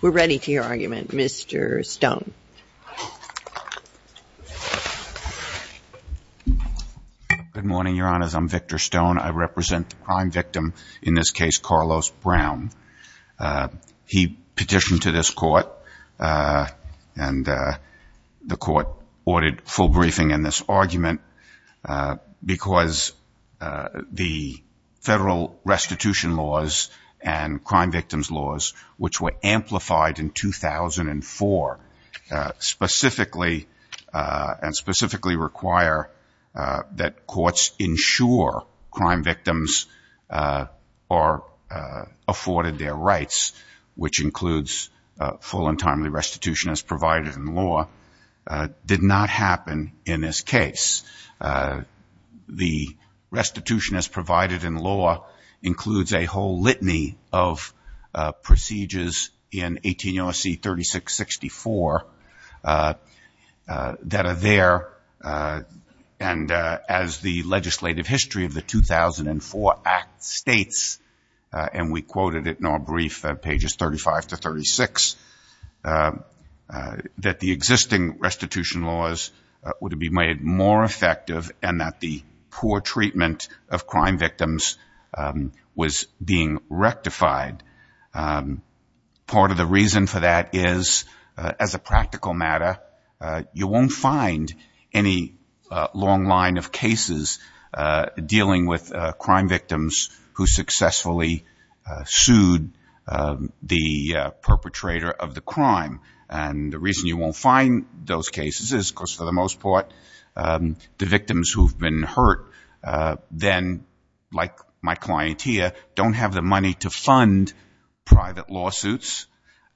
We're ready to hear your argument, Mr. Stone. Good morning, Your Honors. I'm Victor Stone. I represent the prime victim in this case, Carlos Brown. He petitioned to this court, and the court ordered full briefing in this argument because the federal restitution laws and crime victims laws, which were amplified in 2004, specifically and specifically require that courts ensure crime victims are afforded their rights, which includes full and timely restitution as provided in law, did not happen in this case. The restitution as provided in law includes a whole litany of procedures in 18 OSC 3664 that are there, and as the legislative history of the 2004 Act states, and we quoted it in our brief, pages 35 to 36, that the existing restitution laws would be made more effective and that the poor treatment of crime victims was being rectified. Part of the reason for that is, as a practical matter, you won't find any long line of cases dealing with crime victims who successfully sued the perpetrator of the crime. The reason you won't find those cases is, of course, for the most part, the victims who have been hurt then, like my client here, don't have the money to fund private lawsuits.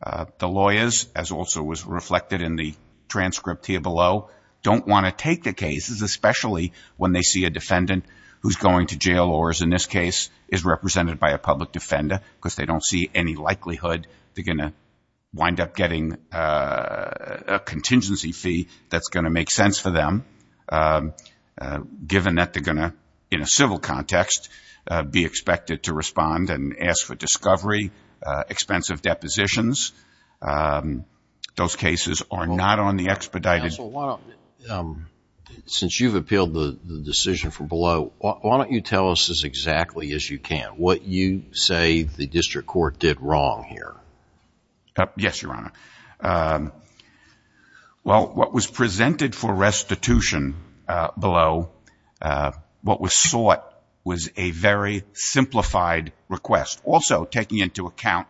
The lawyers, as also was reflected in the transcript here below, don't want to take the cases, especially when they see a defendant who's going to jail or is, in this case, is represented by a public defender because they don't see any likelihood they're going to wind up getting a contingency fee that's going to make sense for them, given that they're going to, in a civil context, be expected to respond and ask for discovery, expensive depositions. Those cases are not on the expedited. Since you've appealed the decision from below, why don't you tell us as exactly as you can what you say the district court did wrong here? Yes, Your Honor. Well, what was presented for restitution below, what was sought, was a very simplified request, also taking into account,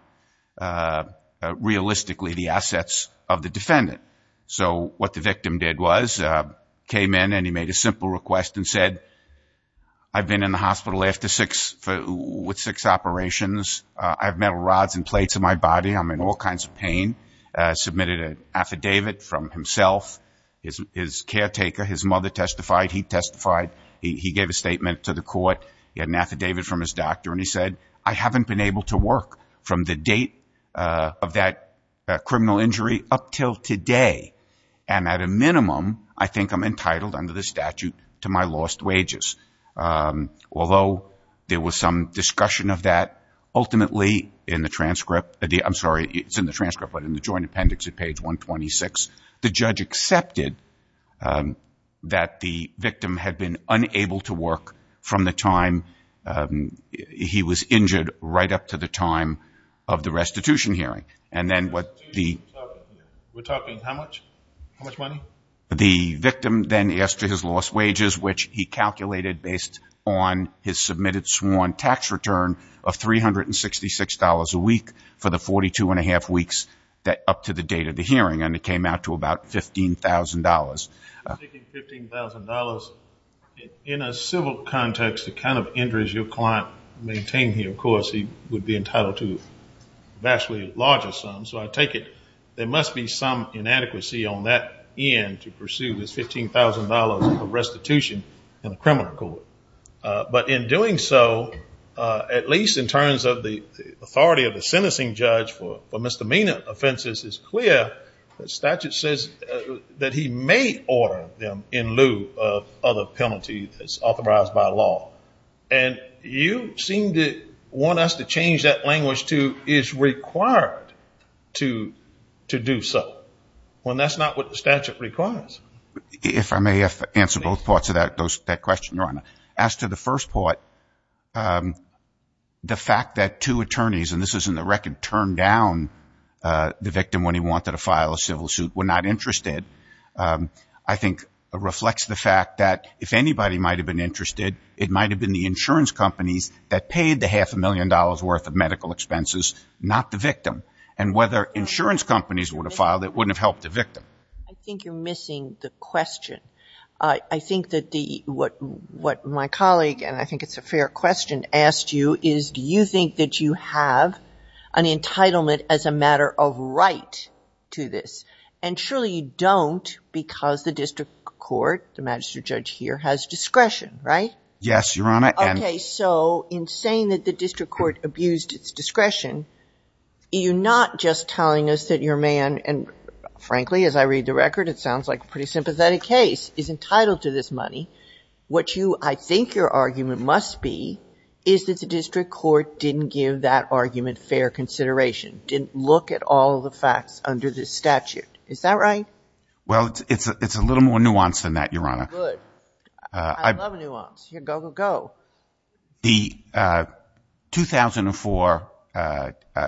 realistically, the assets of the defendant. What the victim did was, came in and he made a simple request and said, I've been in the hospital with six operations, I have metal rods and plates in my body, I'm in all kinds of pain, submitted an affidavit from himself, his caretaker, his mother testified, he testified, he gave a statement to the court, he had an affidavit from his doctor, and he said, I haven't been able to work from the date of that criminal injury up till today. And at a minimum, I think I'm entitled, under the statute, to my lost wages. Although there was some discussion of that, ultimately, in the transcript, I'm sorry, it's in the transcript, but in the joint appendix at page 126, the judge accepted that the victim had been unable to work from the time he was injured right up to the time of the restitution hearing. And then what the... We're talking how much? How much money? The victim then asked for his lost wages, which he calculated based on his submitted sworn tax return of $366 a week for the 42 and a half weeks up to the date of the hearing, and it came out to about $15,000. $15,000, in a civil context, the kind of injuries your client maintained here, of course, he would be entitled to vastly larger sums, so I take it there must be some inadequacy on that end to pursue this $15,000 of restitution in a criminal court. But in doing so, at least in terms of the authority of the sentencing judge for misdemeanor offenses, it's clear the statute says that he may order them in lieu of other penalties that's authorized by law. And you seem to want us to change that language to, is required to do so, when that's not what the statute requires. If I may answer both parts of that question, Your Honor. As to the first part, the fact that two attorneys, and this is in the record, turned down the victim when he wanted to file a civil suit, were not interested, I think reflects the fact that if anybody might have been interested, it might have been the insurance companies that paid the half a million dollars worth of medical expenses, not the victim. And whether insurance companies would have filed, it wouldn't have helped the victim. I think you're missing the question. I think that what my colleague, and I think it's a good point, I think that you have an entitlement as a matter of right to this. And surely you don't because the district court, the magistrate judge here, has discretion, right? Yes, Your Honor. Okay, so in saying that the district court abused its discretion, you're not just telling us that your man, and frankly, as I read the record, it sounds like a pretty sympathetic case, is entitled to this money. What you, I think your argument must be, is that the district court didn't give that argument fair consideration, didn't look at all the facts under the statute. Is that right? Well, it's a little more nuanced than that, Your Honor. Good. I love nuance. Go, go, go. The 2004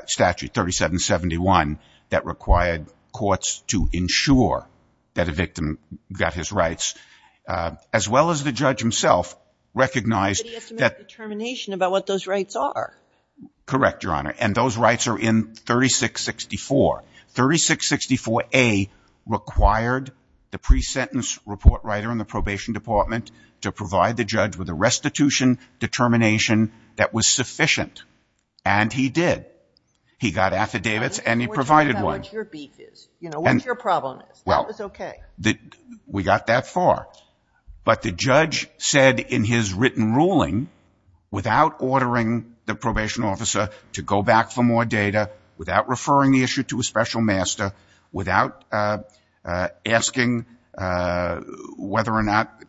statute 3771 that required courts to ensure that a victim got his rights, as well as the judge himself, recognized that those rights are. Correct, Your Honor. And those rights are in 3664. 3664A required the pre-sentence report writer in the probation department to provide the judge with a restitution determination that was sufficient, and he did. He got affidavits, and he provided one. What's your beef is? What's your problem is? That was okay. We got that far. But the judge said in his written ruling, without ordering the probation officer to go back for more data, without referring the issue to a special master, without asking whether or not,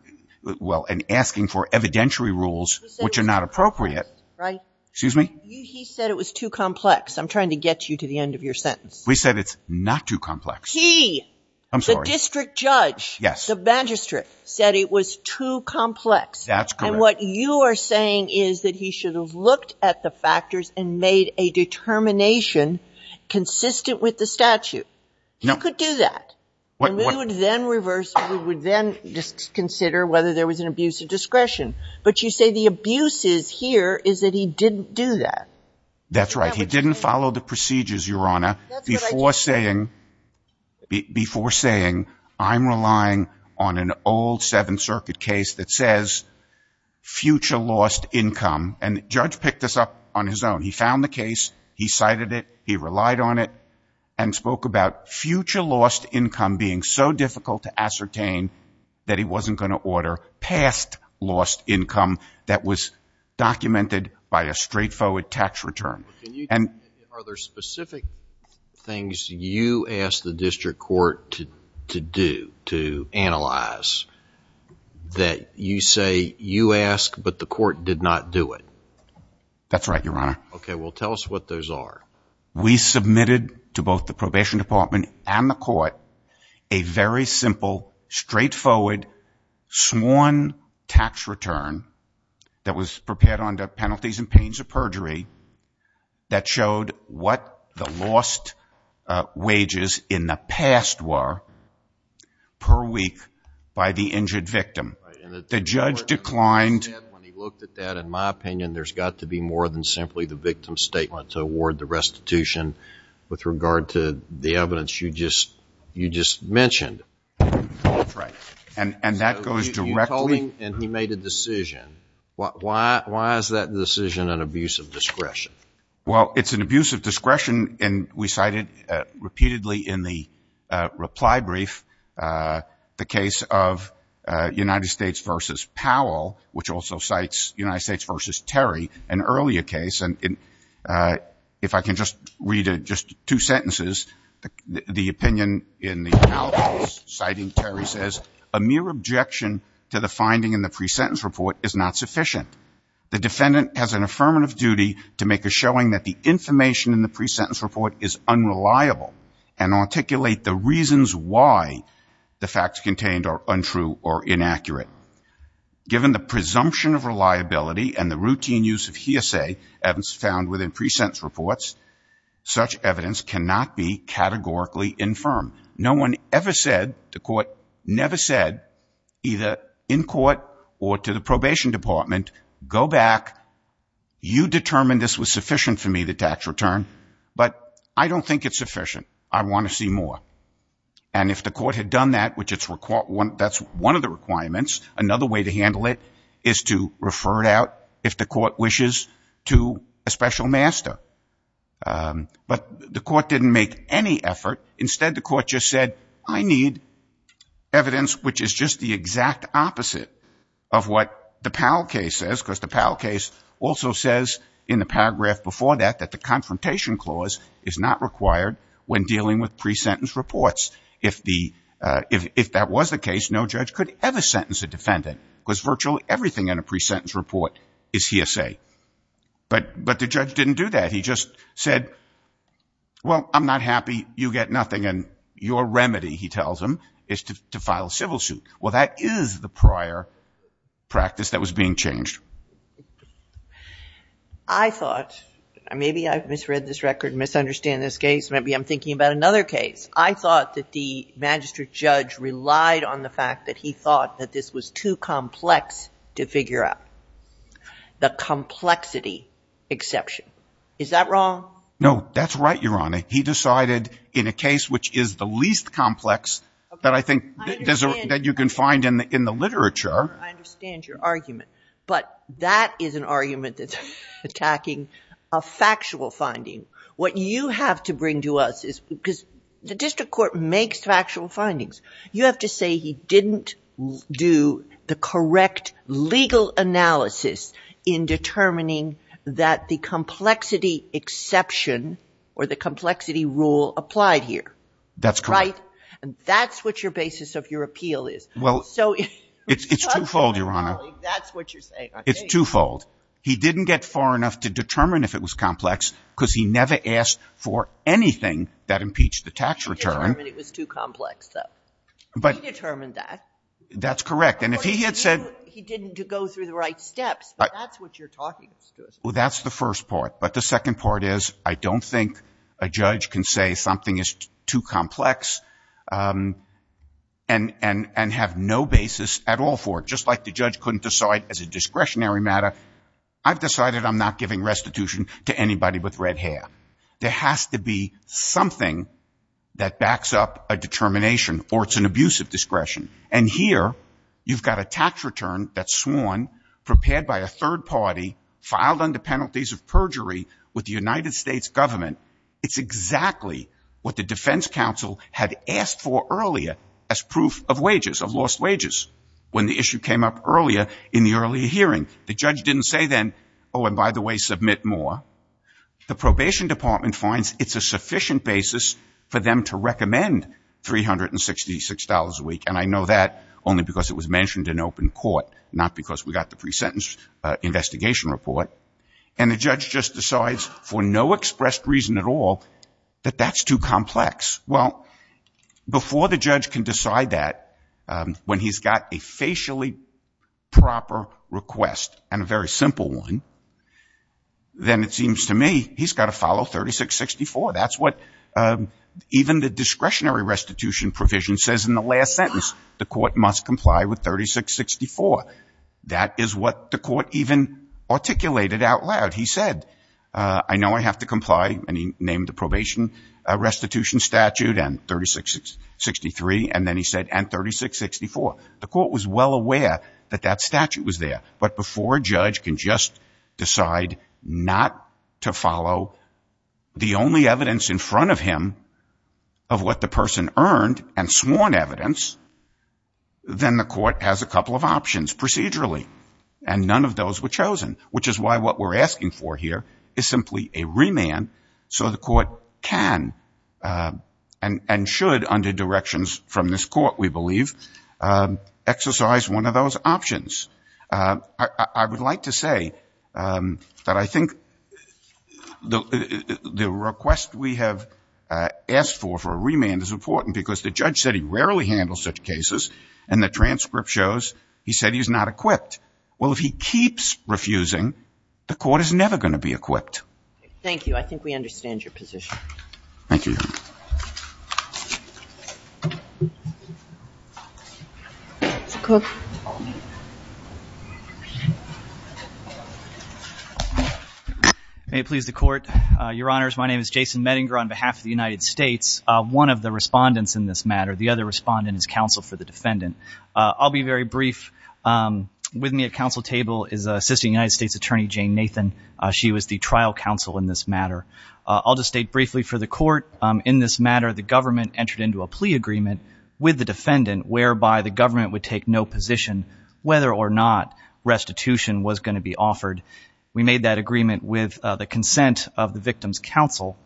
well, and asking for evidentiary rules, which are not appropriate. He said it was too complex, right? Excuse me? He said it was too complex. I'm trying to get you to the end of your sentence. We said it's not too complex. He, the district judge, the magistrate, said it was too complex. That's correct. And what you are saying is that he should have looked at the factors and made a determination consistent with the statute. He could do that, and we would then reverse, we would then just consider whether there was an abuse of discretion. But you say the abuse is here is that he didn't do that. That's right. He didn't follow the procedures, Your Honor, before saying I'm relying on an old Seventh Circuit case that says future lost income. And the judge picked this up on his own. He found the case, he cited it, he relied on it, and spoke about future lost income being so difficult to ascertain that he wasn't going to order past lost income that was documented by a straightforward tax return. And are there specific things you asked the district court to do, to analyze, that you say you asked but the court did not do it? That's right, Your Honor. Okay. Well, tell us what those are. We submitted to both the probation department and the court a very simple, straightforward sworn tax return that was prepared on the penalties and pains of perjury that showed what the lost wages in the past were per week by the injured victim. The judge declined. When he looked at that, in my opinion, there's got to be more than simply the victim's statement to award the restitution with regard to the evidence you just mentioned. That's right. And that goes directly... So you told him and he made a decision. Why is that decision an abuse of discretion? Well, it's an abuse of discretion, and we cited repeatedly in the reply brief the case of United States v. Powell, which also cites United States v. Terry, an earlier case. And if I can just read just two sentences, the opinion in the analysis citing Terry says, a mere objection to the finding in the pre-sentence report is not sufficient. The defendant has an affirmative duty to make a showing that the information in the pre-sentence report is unreliable and articulate the reasons why the facts contained are untrue or inaccurate. Given the presumption of reliability and the routine use of hearsay evidence found within pre-sentence reports, such evidence cannot be categorically infirm. No one ever said, the court never said, either in court or to the probation department, go back, you determined this was sufficient for me, the tax return, but I don't think it's sufficient. I want to see more. And if the court had done that, which that's one of the requirements, another way to handle it is to refer it out, if the court wishes, to a special master. But the court didn't make any effort. Instead, the court just said, I need evidence which is just the exact opposite of what the Powell case says, because the Powell case also says in the paragraph before that, that the confrontation clause is not required when dealing with pre-sentence reports. If that was the case, no judge could ever sentence a defendant because virtually everything in a pre-sentence report is hearsay. But the judge didn't do that. He just said, well, I'm not happy, you get nothing, and your remedy, he tells him, is to file a civil suit. Well, that is the prior practice that was being changed. I thought, maybe I misread this record and misunderstand this case. Maybe I'm thinking about another case. I thought that the magistrate judge relied on the fact that he thought that this was too complex to figure out. The complexity exception. Is that wrong? No, that's right, Your Honor. He decided in a case which is the least complex that I think that you can find in the literature. I understand your argument. But that is an argument that's attacking a factual finding. What you have to bring to us is, because the district court makes factual findings, you have to say he didn't do the correct legal analysis in determining that the complexity exception or the complexity rule applied here. That's correct. That's what your basis of your appeal is. Well, it's twofold, Your Honor. It's twofold. He didn't get far enough to determine if it was complex, because he never asked for anything that impeached the tax return. He determined it was too complex, though. He determined that. That's correct. And if he had said... He didn't go through the right steps, but that's what you're talking to us about. Well, that's the first part. But the second part is, I don't think a judge can say something is too complex and have no basis at all for it, just like the judge couldn't decide as a discretionary matter, I've decided I'm not giving restitution to anybody with red hair. There has to be something that backs up a determination or it's an abuse of discretion. And here, you've got a tax return that's sworn, prepared by a third party, filed under penalties of perjury with the United States government. It's exactly what the defense counsel had asked for earlier as proof of wages, of lost wages, when the issue came up earlier in the earlier hearing. The judge didn't say then, oh, and by the way, submit more. The probation department finds it's a sufficient basis for them to recommend $366 a week. And I know that only because it was mentioned in open court, not because we got the pre-sentence investigation report. And the judge just decides for no expressed reason at all that that's too complex. Well, before the judge can decide that, when he's got a facially proper request and a very simple one, then it seems to me he's got to follow 3664. That's what even the discretionary restitution provision says in the last sentence. The court must comply with 3664. That is what the court even articulated out loud. He said, I know I have to comply. And he named the probation restitution statute and 3663. And then he said, and 3664. The court was well aware that that statute was there. But before a judge can just decide not to follow the only evidence in front of him of what the person earned and sworn evidence, then the court has a couple of options procedurally. And none of those were chosen, which is why what we're asking for here is simply a remand so the court can and should, under directions from this court, we believe, exercise one of those options. I would like to say that I think the request we have asked for for a remand is important because the judge said he rarely handles such cases, and the transcript shows he said he's not equipped. Well, if he keeps refusing, the court is never going to be equipped. Thank you. I think we understand your position. Thank you. May it please the court. Your Honors, my name is Jason Medinger on behalf of the United States. One of the respondents in this matter, the other respondent is counsel for the defendant. I'll be very brief. With me at counsel table is Assistant United States Attorney Jane Nathan. She was the trial counsel in this matter. I'll just state briefly for the court. In this matter, the government entered into a plea agreement with the defendant whereby the government would take no position whether or not restitution was going to be offered. We made that agreement with the consent of the victim's counsel.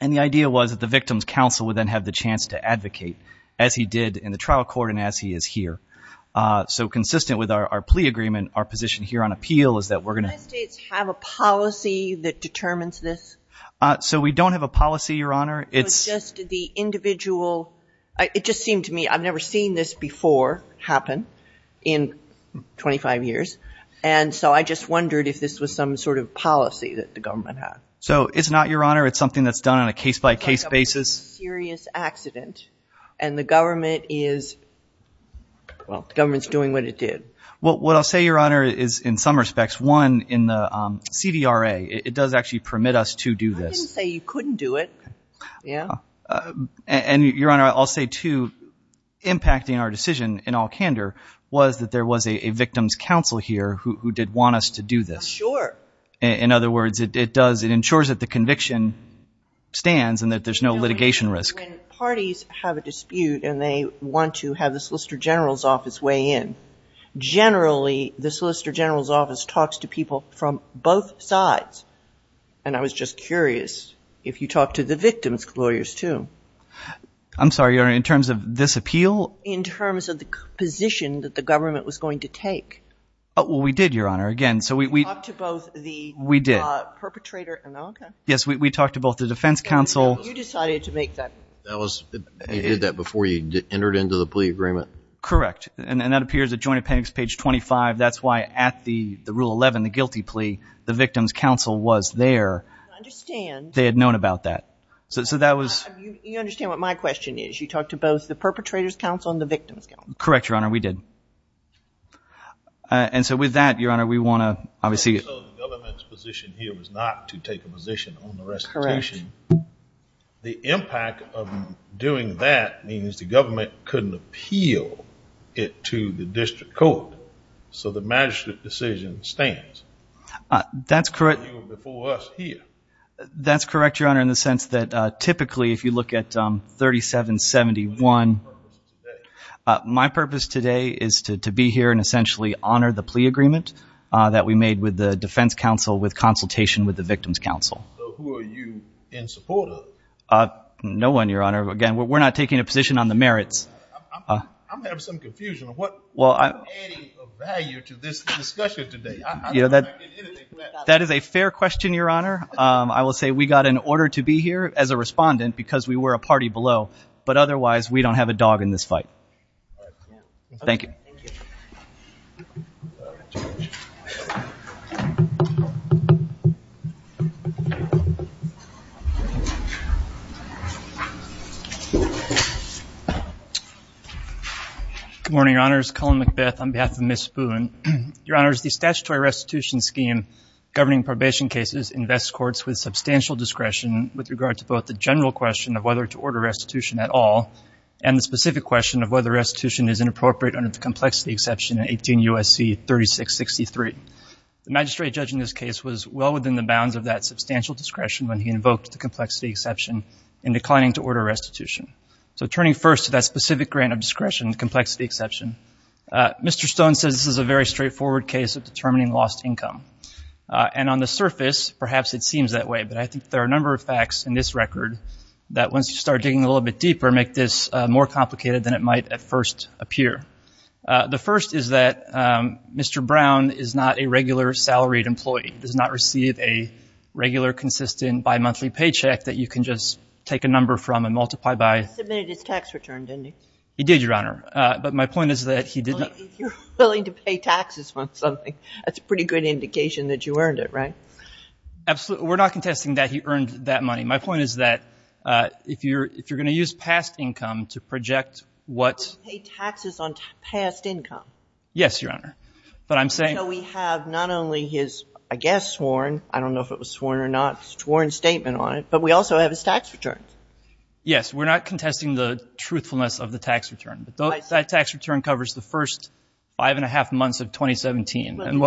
And the idea was that the victim's counsel would then have the chance to advocate, as he did in the trial court and as he is here. So consistent with our plea agreement, our position here on appeal is that we're going to Does the United States have a policy that determines this? So we don't have a policy, Your Honor. It's just the individual. It just seemed to me I've never seen this before happen in 25 years. And so I just wondered if this was some sort of policy that the government had. So it's not, Your Honor. It's something that's done on a case-by-case basis. It's like a serious accident. And the government is, well, the government's doing what it did. Well, what I'll say, Your Honor, is in some respects, one, in the CDRA, it does actually permit us to do this. I didn't say you couldn't do it. And, Your Honor, I'll say, too, impacting our decision in all candor was that there was a victim's counsel here who did want us to do this. Sure. In other words, it does. It ensures that the conviction stands and that there's no litigation risk. So when parties have a dispute and they want to have the Solicitor General's office weigh in, generally the Solicitor General's office talks to people from both sides. And I was just curious if you talked to the victim's lawyers, too. I'm sorry, Your Honor, in terms of this appeal? In terms of the position that the government was going to take. Oh, well, we did, Your Honor. Again, so we – You talked to both the – We did. Perpetrator – oh, okay. Yes, we talked to both the defense counsel – You decided to make that – That was – he did that before he entered into the plea agreement. Correct. And that appears at Joint Appendix page 25. That's why at the Rule 11, the guilty plea, the victim's counsel was there. I understand. They had known about that. So that was – You understand what my question is. You talked to both the perpetrator's counsel and the victim's counsel. Correct, Your Honor, we did. And so with that, Your Honor, we want to obviously – the government's position here was not to take a position on the recitation. Correct. The impact of doing that means the government couldn't appeal it to the district court. So the magistrate decision stands. That's correct. Before us here. That's correct, Your Honor, in the sense that typically if you look at 3771 – What is your purpose today? My purpose today is to be here and essentially honor the plea agreement that we made with the defense counsel with consultation with the victim's counsel. So who are you in support of? No one, Your Honor. Again, we're not taking a position on the merits. I'm having some confusion. I'm not adding a value to this discussion today. I'm not getting anything from that. That is a fair question, Your Honor. I will say we got an order to be here as a respondent because we were a party below. But otherwise, we don't have a dog in this fight. Thank you. Thank you. All right. Good morning, Your Honors. Colin McBeth on behalf of Ms. Boone. Your Honors, the statutory restitution scheme governing probation cases invests courts with substantial discretion with regard to both the general question of whether to order restitution at all and the specific question of whether restitution is inappropriate under the complexity exception in 18 U.S.C. 3663. The magistrate judging this case was well within the bounds of that substantial discretion when he invoked the complexity exception in declining to order restitution. So turning first to that specific grant of discretion, the complexity exception, Mr. Stone says this is a very straightforward case of determining lost income. And on the surface, perhaps it seems that way. But I think there are a number of facts in this record that once you start digging a little bit deeper make this more complicated than it might at first appear. The first is that Mr. Brown is not a regular salaried employee, does not receive a regular consistent bimonthly paycheck that you can just take a number from and multiply by. He submitted his tax return, didn't he? He did, Your Honor. But my point is that he did not. If you're willing to pay taxes for something, that's a pretty good indication that you earned it, right? Absolutely. We're not contesting that he earned that money. My point is that if you're going to use past income to project what — He paid taxes on past income. Yes, Your Honor. But I'm saying — So we have not only his, I guess, sworn, I don't know if it was sworn or not, sworn statement on it, but we also have his tax return. Yes. We're not contesting the truthfulness of the tax return. But that tax return covers the first five and a half months of 2017.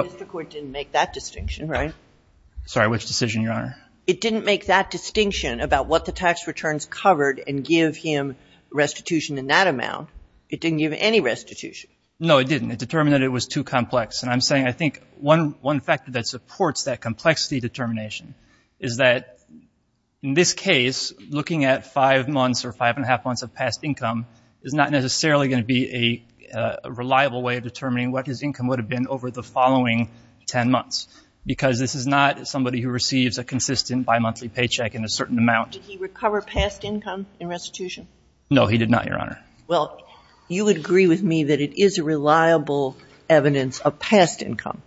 Sorry, which decision, Your Honor? It didn't make that distinction about what the tax returns covered and give him restitution in that amount. It didn't give any restitution. No, it didn't. It determined that it was too complex. And I'm saying I think one factor that supports that complexity determination is that in this case, looking at five months or five and a half months of past income is not necessarily going to be a reliable way of determining what his income would have been over the following ten months because this is not somebody who receives a consistent bimonthly paycheck in a certain amount. Did he recover past income in restitution? No, he did not, Your Honor. Well, you would agree with me that it is a reliable evidence of past income.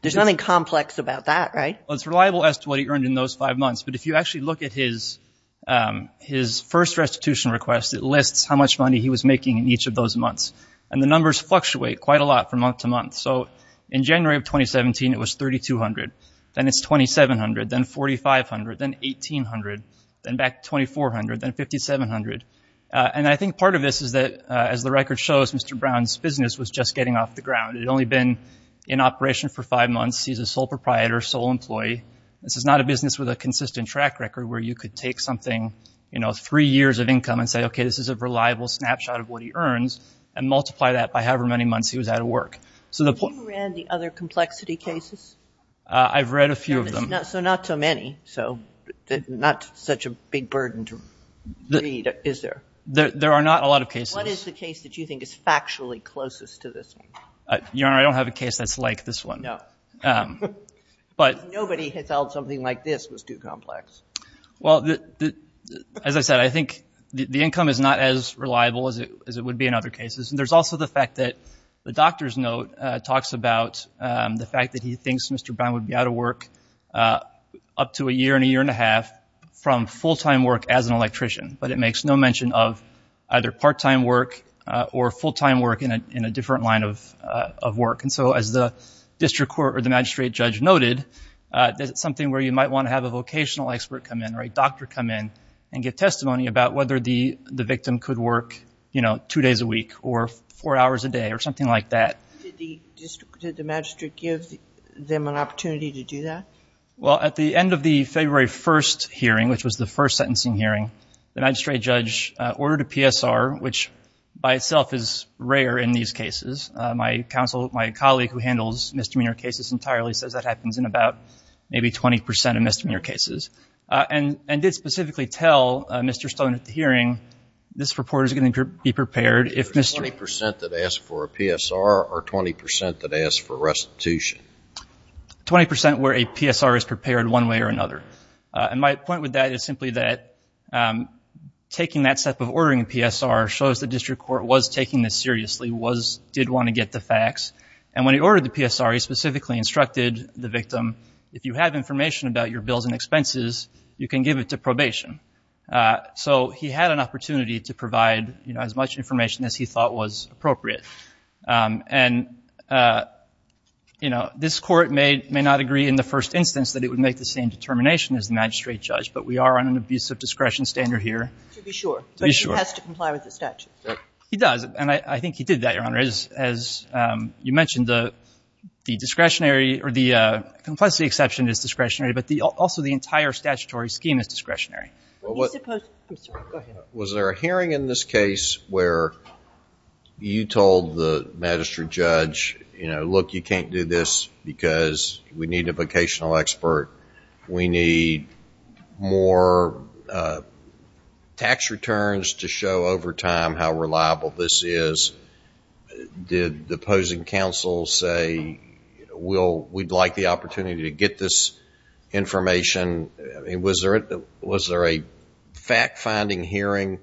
There's nothing complex about that, right? Well, it's reliable as to what he earned in those five months. But if you actually look at his first restitution request, it lists how much money he was making in each of those months. And the numbers fluctuate quite a lot from month to month. So in January of 2017, it was $3,200. Then it's $2,700. Then $4,500. Then $1,800. Then back to $2,400. Then $5,700. And I think part of this is that, as the record shows, Mr. Brown's business was just getting off the ground. It had only been in operation for five months. He's a sole proprietor, sole employee. This is not a business with a consistent track record where you could take something, you know, three years of income and say, okay, this is a reliable snapshot of what he earns and multiply that by however many months he was out of work. Have you read the other complexity cases? I've read a few of them. So not so many. So not such a big burden to read, is there? There are not a lot of cases. What is the case that you think is factually closest to this one? Your Honor, I don't have a case that's like this one. No. Nobody has held something like this was too complex. Well, as I said, I think the income is not as reliable as it would be in other cases. There's also the fact that the doctor's note talks about the fact that he thinks Mr. Brown would be out of work up to a year and a year and a half from full-time work as an electrician, but it makes no mention of either part-time work or full-time work in a different line of work. And so as the district court or the magistrate judge noted, that's something where you might want to have a vocational expert come in or a doctor come in and give testimony about whether the victim could work, you know, 24 hours a day or something like that. Did the magistrate give them an opportunity to do that? Well, at the end of the February 1st hearing, which was the first sentencing hearing, the magistrate judge ordered a PSR, which by itself is rare in these cases. My colleague who handles misdemeanor cases entirely says that happens in about maybe 20 percent of misdemeanor cases, and did specifically tell Mr. Stone at the hearing, this reporter is going to be prepared if Mr. There's 20 percent that ask for a PSR or 20 percent that ask for restitution. 20 percent where a PSR is prepared one way or another. And my point with that is simply that taking that step of ordering a PSR shows the district court was taking this seriously, did want to get the facts. And when he ordered the PSR, he specifically instructed the victim, if you have information about your bills and expenses, you can give it to probation. So he had an opportunity to provide as much information as he thought was appropriate. And, you know, this court may not agree in the first instance that it would make the same determination as the magistrate judge, but we are on an abuse of discretion standard here. To be sure. To be sure. But he has to comply with the statute. He does. And I think he did that, Your Honor. As you mentioned, the discretionary or the complexity exception is discretionary, but also the entire statutory scheme is discretionary. Was there a hearing in this case where you told the magistrate judge, you know, look, you can't do this because we need a vocational expert. We need more tax returns to show over time how reliable this is. Did the opposing counsel say we'd like the opportunity to get this information? Was there a fact-finding hearing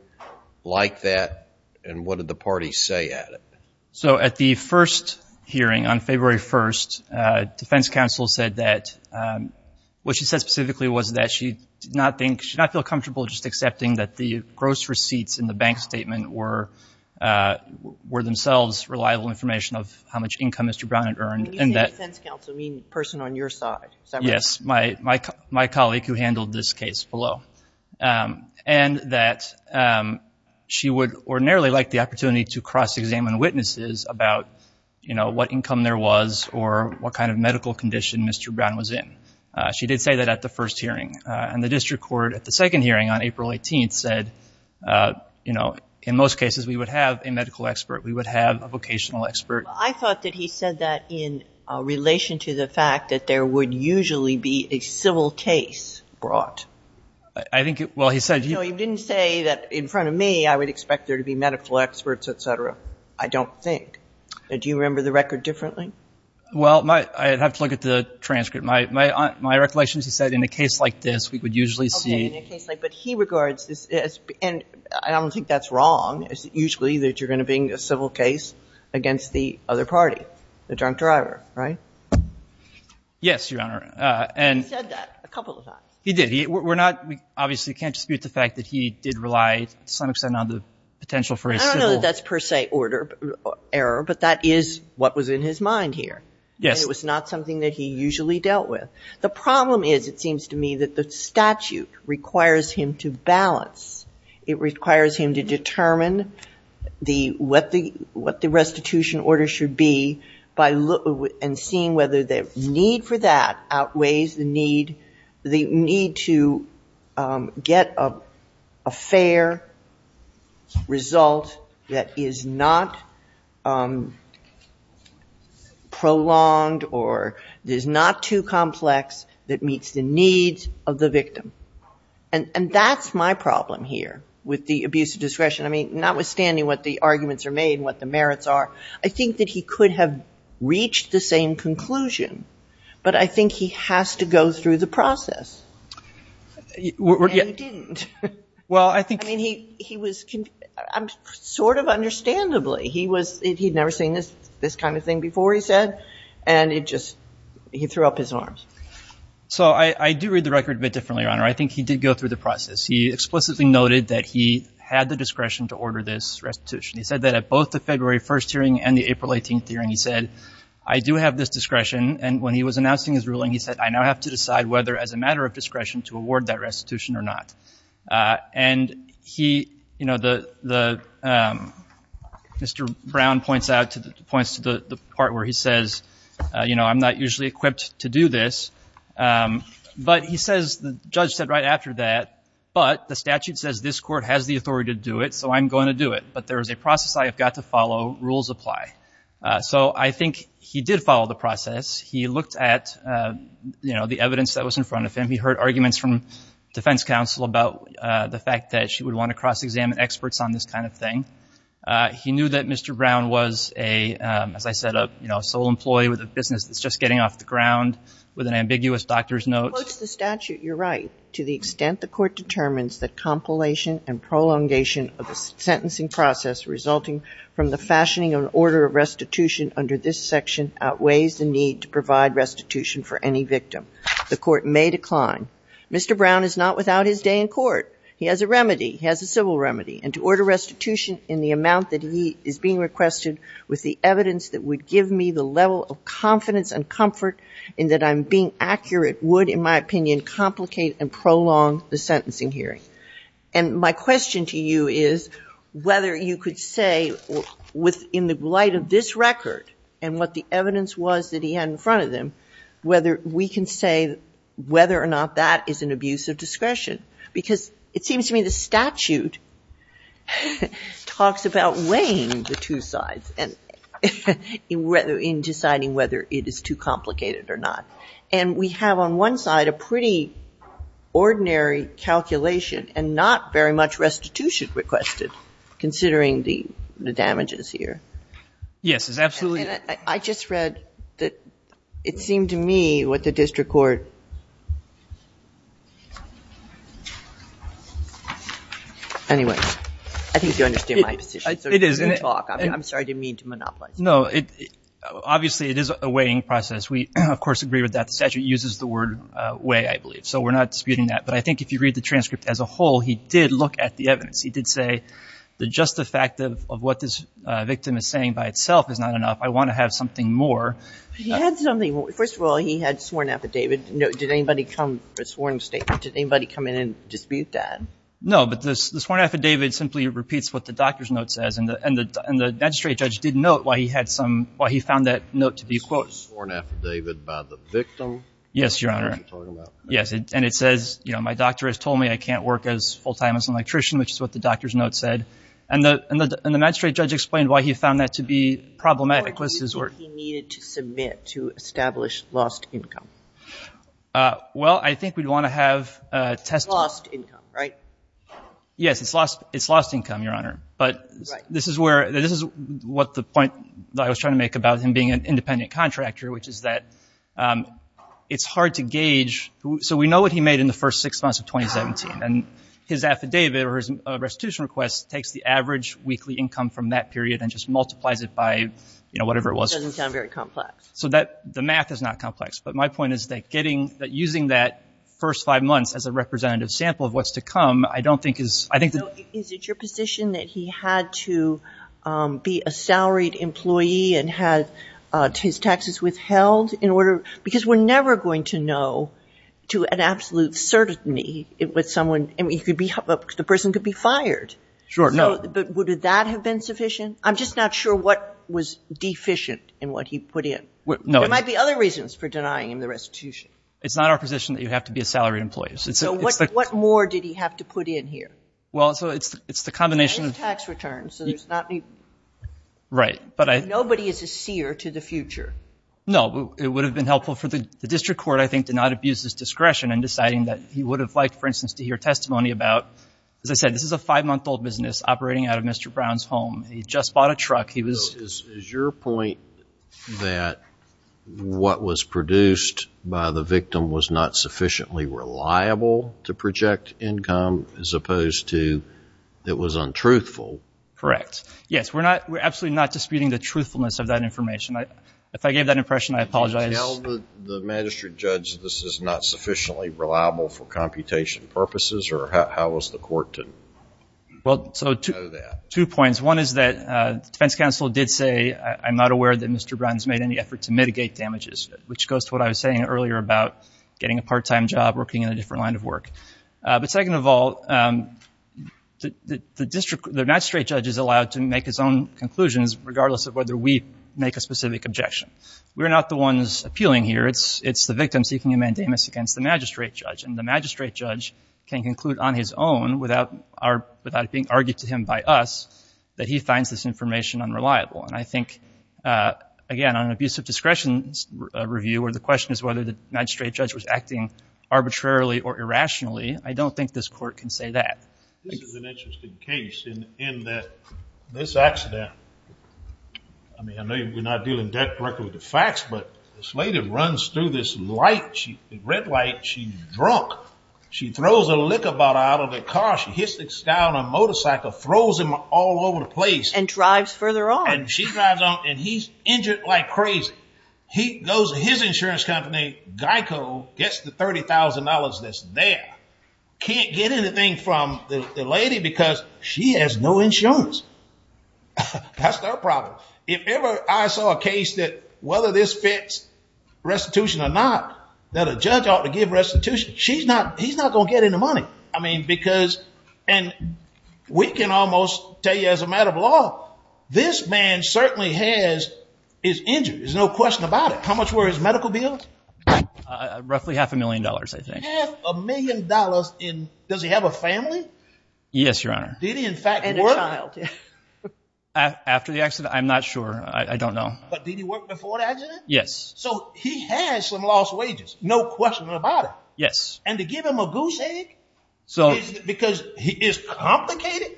like that, and what did the parties say at it? So at the first hearing on February 1st, defense counsel said that what she said specifically was that she did not think, she did not feel comfortable just accepting that the gross receipts in the bank statement were themselves reliable information of how much income Mr. Brown had earned. When you say defense counsel, you mean the person on your side? Yes. My colleague who handled this case below. And that she would ordinarily like the opportunity to cross-examine witnesses about, you know, what income there was or what kind of medical condition Mr. Brown was in. She did say that at the first hearing. And the district court at the second hearing on April 18th said, you know, in most cases we would have a medical expert, we would have a vocational expert. I thought that he said that in relation to the fact that there would usually be a civil case brought. I think, well, he said. No, he didn't say that in front of me I would expect there to be medical experts, et cetera. I don't think. Do you remember the record differently? Well, I'd have to look at the transcript. My recollection is he said in a case like this we would usually see. But he regards this as, and I don't think that's wrong, it's usually that you're going to bring a civil case against the other party, the drunk driver, right? Yes, Your Honor. He said that a couple of times. He did. We're not, we obviously can't dispute the fact that he did rely to some extent on the potential for a civil. I don't know that that's per se order error, but that is what was in his mind here. Yes. And it was not something that he usually dealt with. The problem is, it seems to me, that the statute requires him to balance. It requires him to determine what the restitution order should be and seeing whether the need for that outweighs the need to get a fair result that is not prolonged or is not too complex that meets the needs of the victim. And that's my problem here with the abuse of discretion. I mean, notwithstanding what the arguments are made and what the merits are, I think that he could have reached the same conclusion, but I think he has to go through the process. And he didn't. Well, I think... I mean, he was, sort of understandably, he was, he'd never seen this kind of thing before, he said, and it just, he threw up his arms. So I do read the record a bit differently, Your Honor. I think he did go through the process. He explicitly noted that he had the discretion to order this restitution. He said that at both the February 1st hearing and the April 18th hearing, he said, I do have this discretion, and when he was announcing his ruling, he said, I now have to decide whether, as a matter of discretion, to award that restitution or not. And he, you know, the, Mr. Brown points out, points to the part where he says, you know, I'm not usually equipped to do this, but he says, the judge said right after that, but the statute says this court has the authority to do it, so I'm going to do it. But there is a process I have got to follow. Rules apply. So I think he did follow the process. He looked at, you know, the evidence that was in front of him. He heard arguments from defense counsel about the fact that she would want to cross-examine experts on this kind of thing. He knew that Mr. Brown was a, as I said, a, you know, a sole employee with a business that's just getting off the ground with an ambiguous doctor's note. When he quotes the statute, you're right. To the extent the court determines that compilation and prolongation of the sentencing process resulting from the fashioning of an order of restitution under this section outweighs the need to provide restitution for any victim, the court may decline. Mr. Brown is not without his day in court. He has a remedy. He has a civil remedy. And to order restitution in the amount that he is being requested with the evidence that would give me the level of confidence and comfort in that I'm being accurate would, in my opinion, complicate and prolong the sentencing hearing. And my question to you is whether you could say in the light of this record and what the evidence was that he had in front of him, whether we can say whether or not that is an abuse of discretion. Because it seems to me the statute talks about weighing the two sides in deciding whether it is too complicated or not. And we have on one side a pretty ordinary calculation and not very much restitution requested considering the damages here. Yes, absolutely. And I just read that it seemed to me what the district court anyway, I think you understand my position. It is. I'm sorry to monopolize. No. Obviously, it is a weighing process. We, of course, agree with that. The statute uses the word weigh, I believe. So we're not disputing that. But I think if you read the transcript as a whole, he did look at the evidence. He did say the just effect of what this victim is saying by itself is not enough. I want to have something more. He had something. First of all, he had sworn affidavit. Did anybody come, a sworn statement, did anybody come in and dispute that? No, but the sworn affidavit simply repeats what the doctor's note says. And the magistrate judge did note why he had some, why he found that note to be quote sworn affidavit by the victim. Yes, Your Honor. Yes, and it says my doctor has told me I can't work full time as an electrician, which is what the doctor's note said. And the magistrate judge explained why he found that to be problematic. What did he think he needed to submit to establish lost income? Well, I think we'd want to have testimony. Lost income, right? Yes, it's lost income, Your Honor. But this is where, this is what the point that I was trying to make about him being an independent contractor, which is that it's hard to gauge. So we know what he made in the first six months of 2017. And his affidavit or his restitution request takes the average weekly income from that period and just multiplies it by, you know, whatever it was. Doesn't sound very complex. So that, the math is not complex. But my point is that getting, that using that first five months as a representative sample of what's to come, I don't think is, I think that. Is it your position that he had to be a salaried employee and had his taxes withheld in order, because we're never going to know to an absolute certainty with someone, I mean, he could be, the person could be fired. Sure, no. But would that have been sufficient? I'm just not sure what was deficient in what he put in. No. There might be other reasons for denying him the restitution. It's not our position that you have to be a salaried employee. So what more did he have to put in here? Well, so it's the combination of. And his tax returns, so there's not. Right. Nobody is a seer to the future. No. It would have been helpful for the district court, I think, to not abuse his discretion in deciding that he would have liked, for instance, to hear testimony about, as I said, this is a five-month-old business operating out of Mr. Brown's home. He just bought a truck. He was. Is your point that what was produced by the victim was not sufficiently reliable to project income as opposed to it was untruthful? Correct. Yes. We're not, we're absolutely not disputing the truthfulness of that information. If I gave that impression, I apologize. Did you tell the magistrate judge that this is not sufficiently reliable for computation purposes, or how was the court to know that? Well, so two points. One is that the defense counsel did say, I'm not aware that Mr. Brown has made any effort to mitigate damages, which goes to what I was saying earlier about getting a part-time job, working in a different line of work. But second of all, the district, the magistrate judge is allowed to make his own conclusions, regardless of whether we make a specific objection. We're not the ones appealing here. It's the victim seeking a mandamus against the magistrate judge. And the magistrate judge can conclude on his own, without it being argued to him by us, that he finds this information unreliable. And I think, again, on an abuse of discretion review, where the question is whether the magistrate judge was acting arbitrarily or irrationally, I don't think this court can say that. This is an interesting case in that this accident, I mean, I know we're not dealing directly with the facts, but this lady runs through this light, the red light, she's drunk. She throws a liquor bottle out of the car. She hits this guy on a motorcycle, throws him all over the place. And drives further on. And she drives on, and he's injured like crazy. He goes to his insurance company, Geico, gets the $30,000 that's there, can't get anything from the lady because she has no insurance. That's their problem. If ever I saw a case that whether this fits restitution or not, that a judge ought to give restitution, he's not going to get any money. I mean, because, and we can almost tell you as a matter of law, this man certainly is injured. There's no question about it. How much were his medical bills? Roughly half a million dollars, I think. Half a million dollars in, does he have a family? Yes, Your Honor. Did he in fact work? And a child. After the accident? I'm not sure. I don't know. But did he work before the accident? Yes. So he has some lost wages. No question about it. Yes. And to give him a goose egg? Because it's complicated.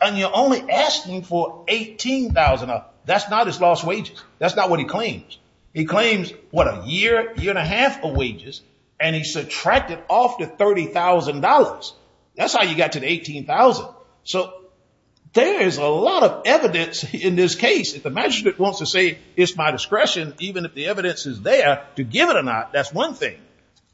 And you're only asking for $18,000. That's not his lost wages. That's not what he claims. He claims, what, a year, year and a half of wages? And he subtracted off the $30,000. That's how you got to the $18,000. So there is a lot of evidence in this case. If the magistrate wants to say it's my discretion, even if the evidence is there, to give it or not, that's one thing.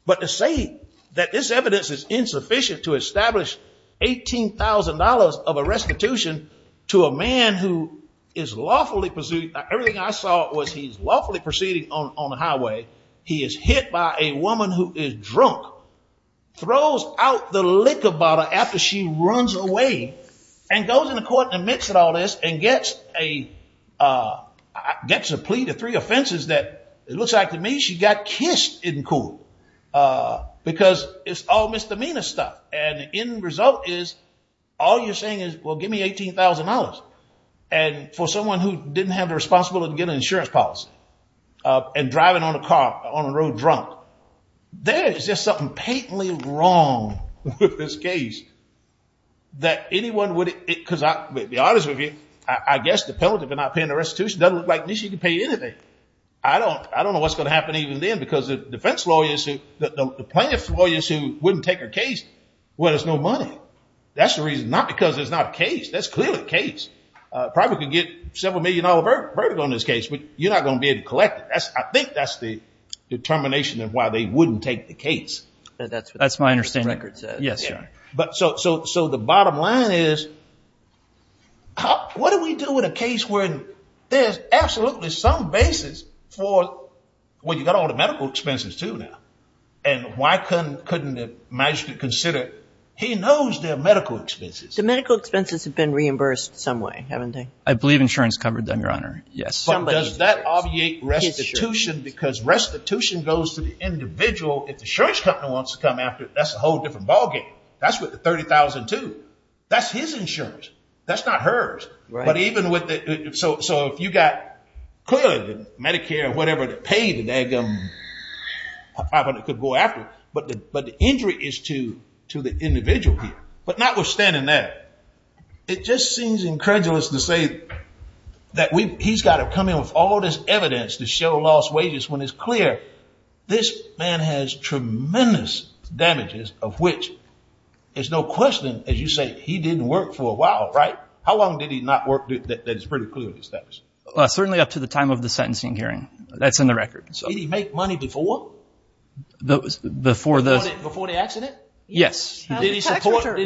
But to say that this evidence is insufficient to establish $18,000 of a restitution to a man who is lawfully pursued, everything I saw was he's lawfully proceeding on the highway. He is hit by a woman who is drunk, throws out the liquor bottle after she runs away, and goes into court and admits to all this and gets a plea to three offenses that it looks like to me she got kissed in court because it's all misdemeanor stuff. And the end result is all you're saying is, well, give me $18,000. And for someone who didn't have the responsibility to get an insurance policy and driving on a car on the road drunk, there is just something patently wrong with this case that anyone would, because I'll be honest with you, I guess the penalty for not paying the restitution doesn't look like at least she could pay anything. I don't know what's going to happen even then because the defense lawyers, the plaintiff's lawyers who wouldn't take her case, well, there's no money. That's the reason, not because there's not a case. That's clearly a case. Probably could get several million dollar verdict on this case, but you're not going to be able to collect it. I think that's the determination of why they wouldn't take the case. That's my understanding. Yes, Your Honor. So the bottom line is, what do we do in a case where there's absolutely some basis for, well, you've got all the medical expenses too now. And why couldn't the magistrate consider, he knows their medical expenses. The medical expenses have been reimbursed some way, haven't they? I believe insurance covered them, Your Honor. But does that obviate restitution? Because restitution goes to the individual. If the insurance company wants to come after it, that's a whole different ballgame. That's with the $30,000 too. That's his insurance. That's not hers. Right. But even with the, so if you got, clearly, Medicare or whatever to pay the dad government, probably could go after it. But the injury is to the individual here. But notwithstanding that, it just seems incredulous to say that he's got to come in with all this evidence to show lost wages when it's clear this man has tremendous damages of which there's no question, as you say, he didn't work for a while, right? How long did he not work that is pretty clear to establish? Certainly up to the time of the sentencing hearing. That's in the record. Did he make money before? Before the accident? Yes. Did he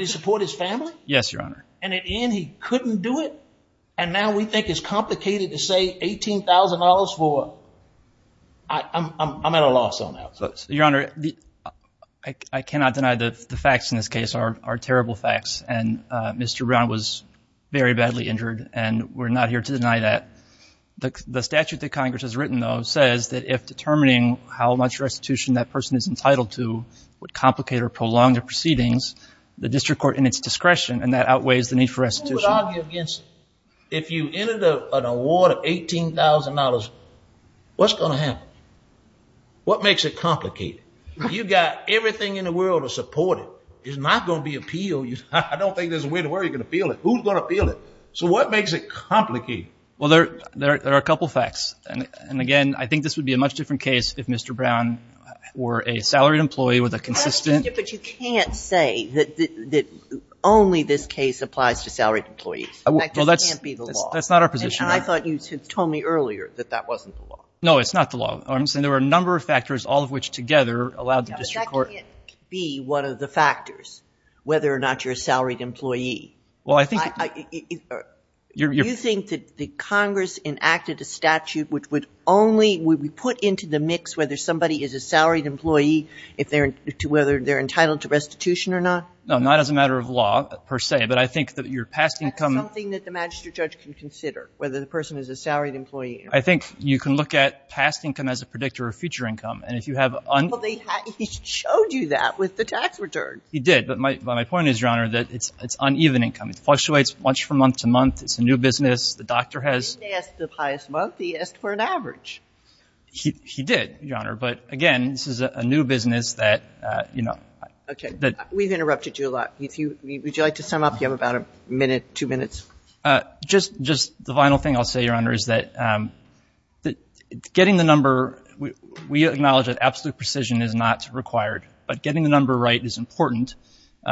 support his family? Yes, Your Honor. And at the end he couldn't do it? And now we think it's complicated to say $18,000 for, I'm at a loss on that. Your Honor, I cannot deny the facts in this case are terrible facts. And Mr. Brown was very badly injured, and we're not here to deny that. The statute that Congress has written, though, says that if determining how much restitution that person is entitled to would complicate or prolong their proceedings, the district court in its discretion, and that outweighs the need for restitution. Who would argue against if you entered an award of $18,000, what's going to happen? What makes it complicated? You've got everything in the world to support it. It's not going to be appealed. I don't think there's a way to where you're going to appeal it. Who's going to appeal it? So what makes it complicated? Well, there are a couple facts. And, again, I think this would be a much different case if Mr. But you can't say that only this case applies to salaried employees. That just can't be the law. Well, that's not our position, Your Honor. And I thought you had told me earlier that that wasn't the law. No, it's not the law. There are a number of factors, all of which together allow the district court But that can't be one of the factors, whether or not you're a salaried employee. Well, I think it You think that Congress enacted a statute which would only whether somebody is a salaried employee, whether they're entitled to restitution or not? No, not as a matter of law, per se. But I think that your past income That's something that the magistrate judge can consider, whether the person is a salaried employee. I think you can look at past income as a predictor of future income. And if you have Well, he showed you that with the tax return. He did. But my point is, Your Honor, that it's uneven income. It fluctuates much from month to month. It's a new business. The doctor has He didn't ask for the highest month. He asked for an average. He did, Your Honor. But, again, this is a new business that, you know Okay. We've interrupted you a lot. Would you like to sum up? You have about a minute, two minutes. Just the final thing I'll say, Your Honor, is that getting the number We acknowledge that absolute precision is not required. But getting the number right is important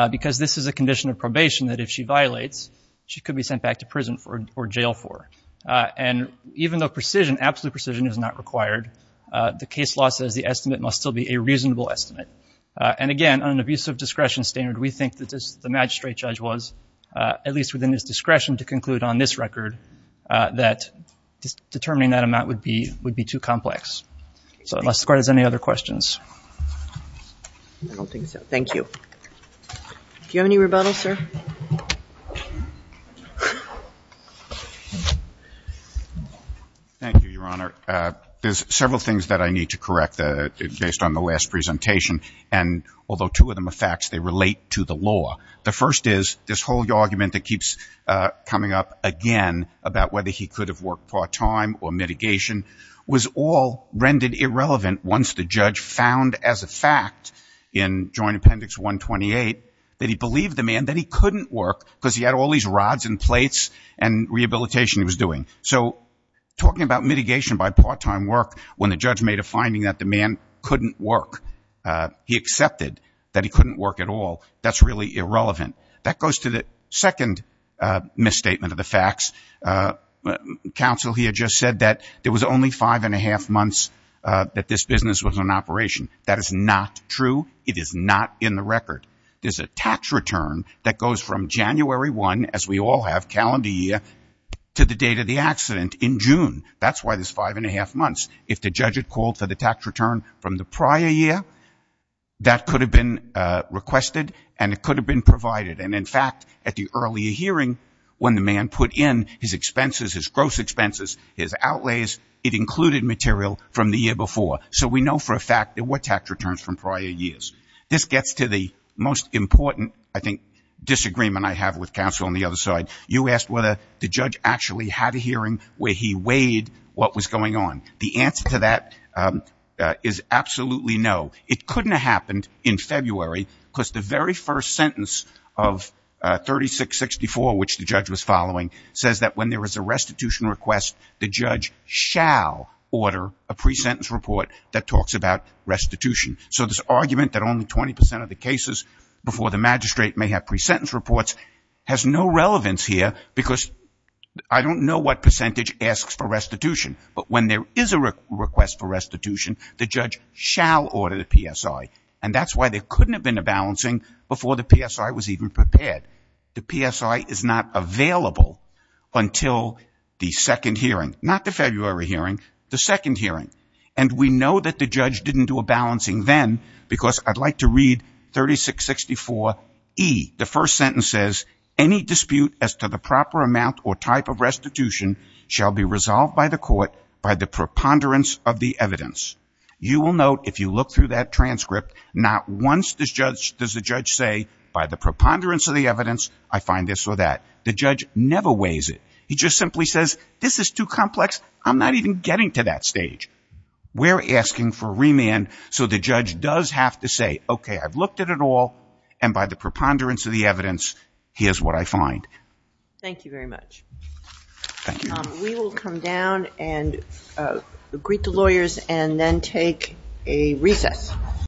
because this is a condition of probation that if she violates, she could be sent back to prison or jail for. And even though precision, absolute precision is not required, the case law says the estimate must still be a reasonable estimate. And, again, on an abusive discretion standard, we think that the magistrate judge was at least within his discretion to conclude on this record that determining that amount would be too complex. So unless the Court has any other questions. I don't think so. Thank you. Do you have any rebuttals, sir? Thank you, Your Honor. There's several things that I need to correct based on the last presentation. And although two of them are facts, they relate to the law. The first is this whole argument that keeps coming up again about whether he could have worked part-time or mitigation was all rendered irrelevant once the judge found as a fact in Joint Appendix 128 that he believed the man, that he couldn't work because he had all these rods and plates and rehabilitation he was doing. So talking about mitigation by part-time work when the judge made a finding that the man couldn't work, he accepted that he couldn't work at all. That's really irrelevant. That goes to the second misstatement of the facts. Counsel here just said that there was only five-and-a-half months that this business was in operation. That is not true. It is not in the record. There's a tax return that goes from January 1, as we all have, calendar year, to the date of the accident in June. That's why there's five-and-a-half months. If the judge had called for the tax return from the prior year, that could have been requested and it could have been provided. And, in fact, at the earlier hearing when the man put in his expenses, his gross expenses, his outlays, it included material from the year before. So we know for a fact there were tax returns from prior years. This gets to the most important, I think, disagreement I have with counsel on the other side. You asked whether the judge actually had a hearing where he weighed what was going on. The answer to that is absolutely no. It couldn't have happened in February because the very first sentence of 3664, which the judge was following, says that when there is a restitution request, the judge shall order a pre-sentence report that talks about restitution. So this argument that only 20% of the cases before the magistrate may have pre-sentence reports has no relevance here because I don't know what percentage asks for restitution. But when there is a request for restitution, the judge shall order the PSI. And that's why there couldn't have been a balancing before the PSI was even prepared. The PSI is not available until the second hearing, not the February hearing, the second hearing. And we know that the judge didn't do a balancing then because I'd like to read 3664E. The first sentence says, Any dispute as to the proper amount or type of restitution shall be resolved by the court by the preponderance of the evidence. You will note if you look through that transcript, not once does the judge say, by the preponderance of the evidence, I find this or that. The judge never weighs it. He just simply says, this is too complex. I'm not even getting to that stage. We're asking for remand. So the judge does have to say, okay, I've looked at it all. And by the preponderance of the evidence, here's what I find. Thank you very much. Thank you. We will come down and greet the lawyers and then take a recess.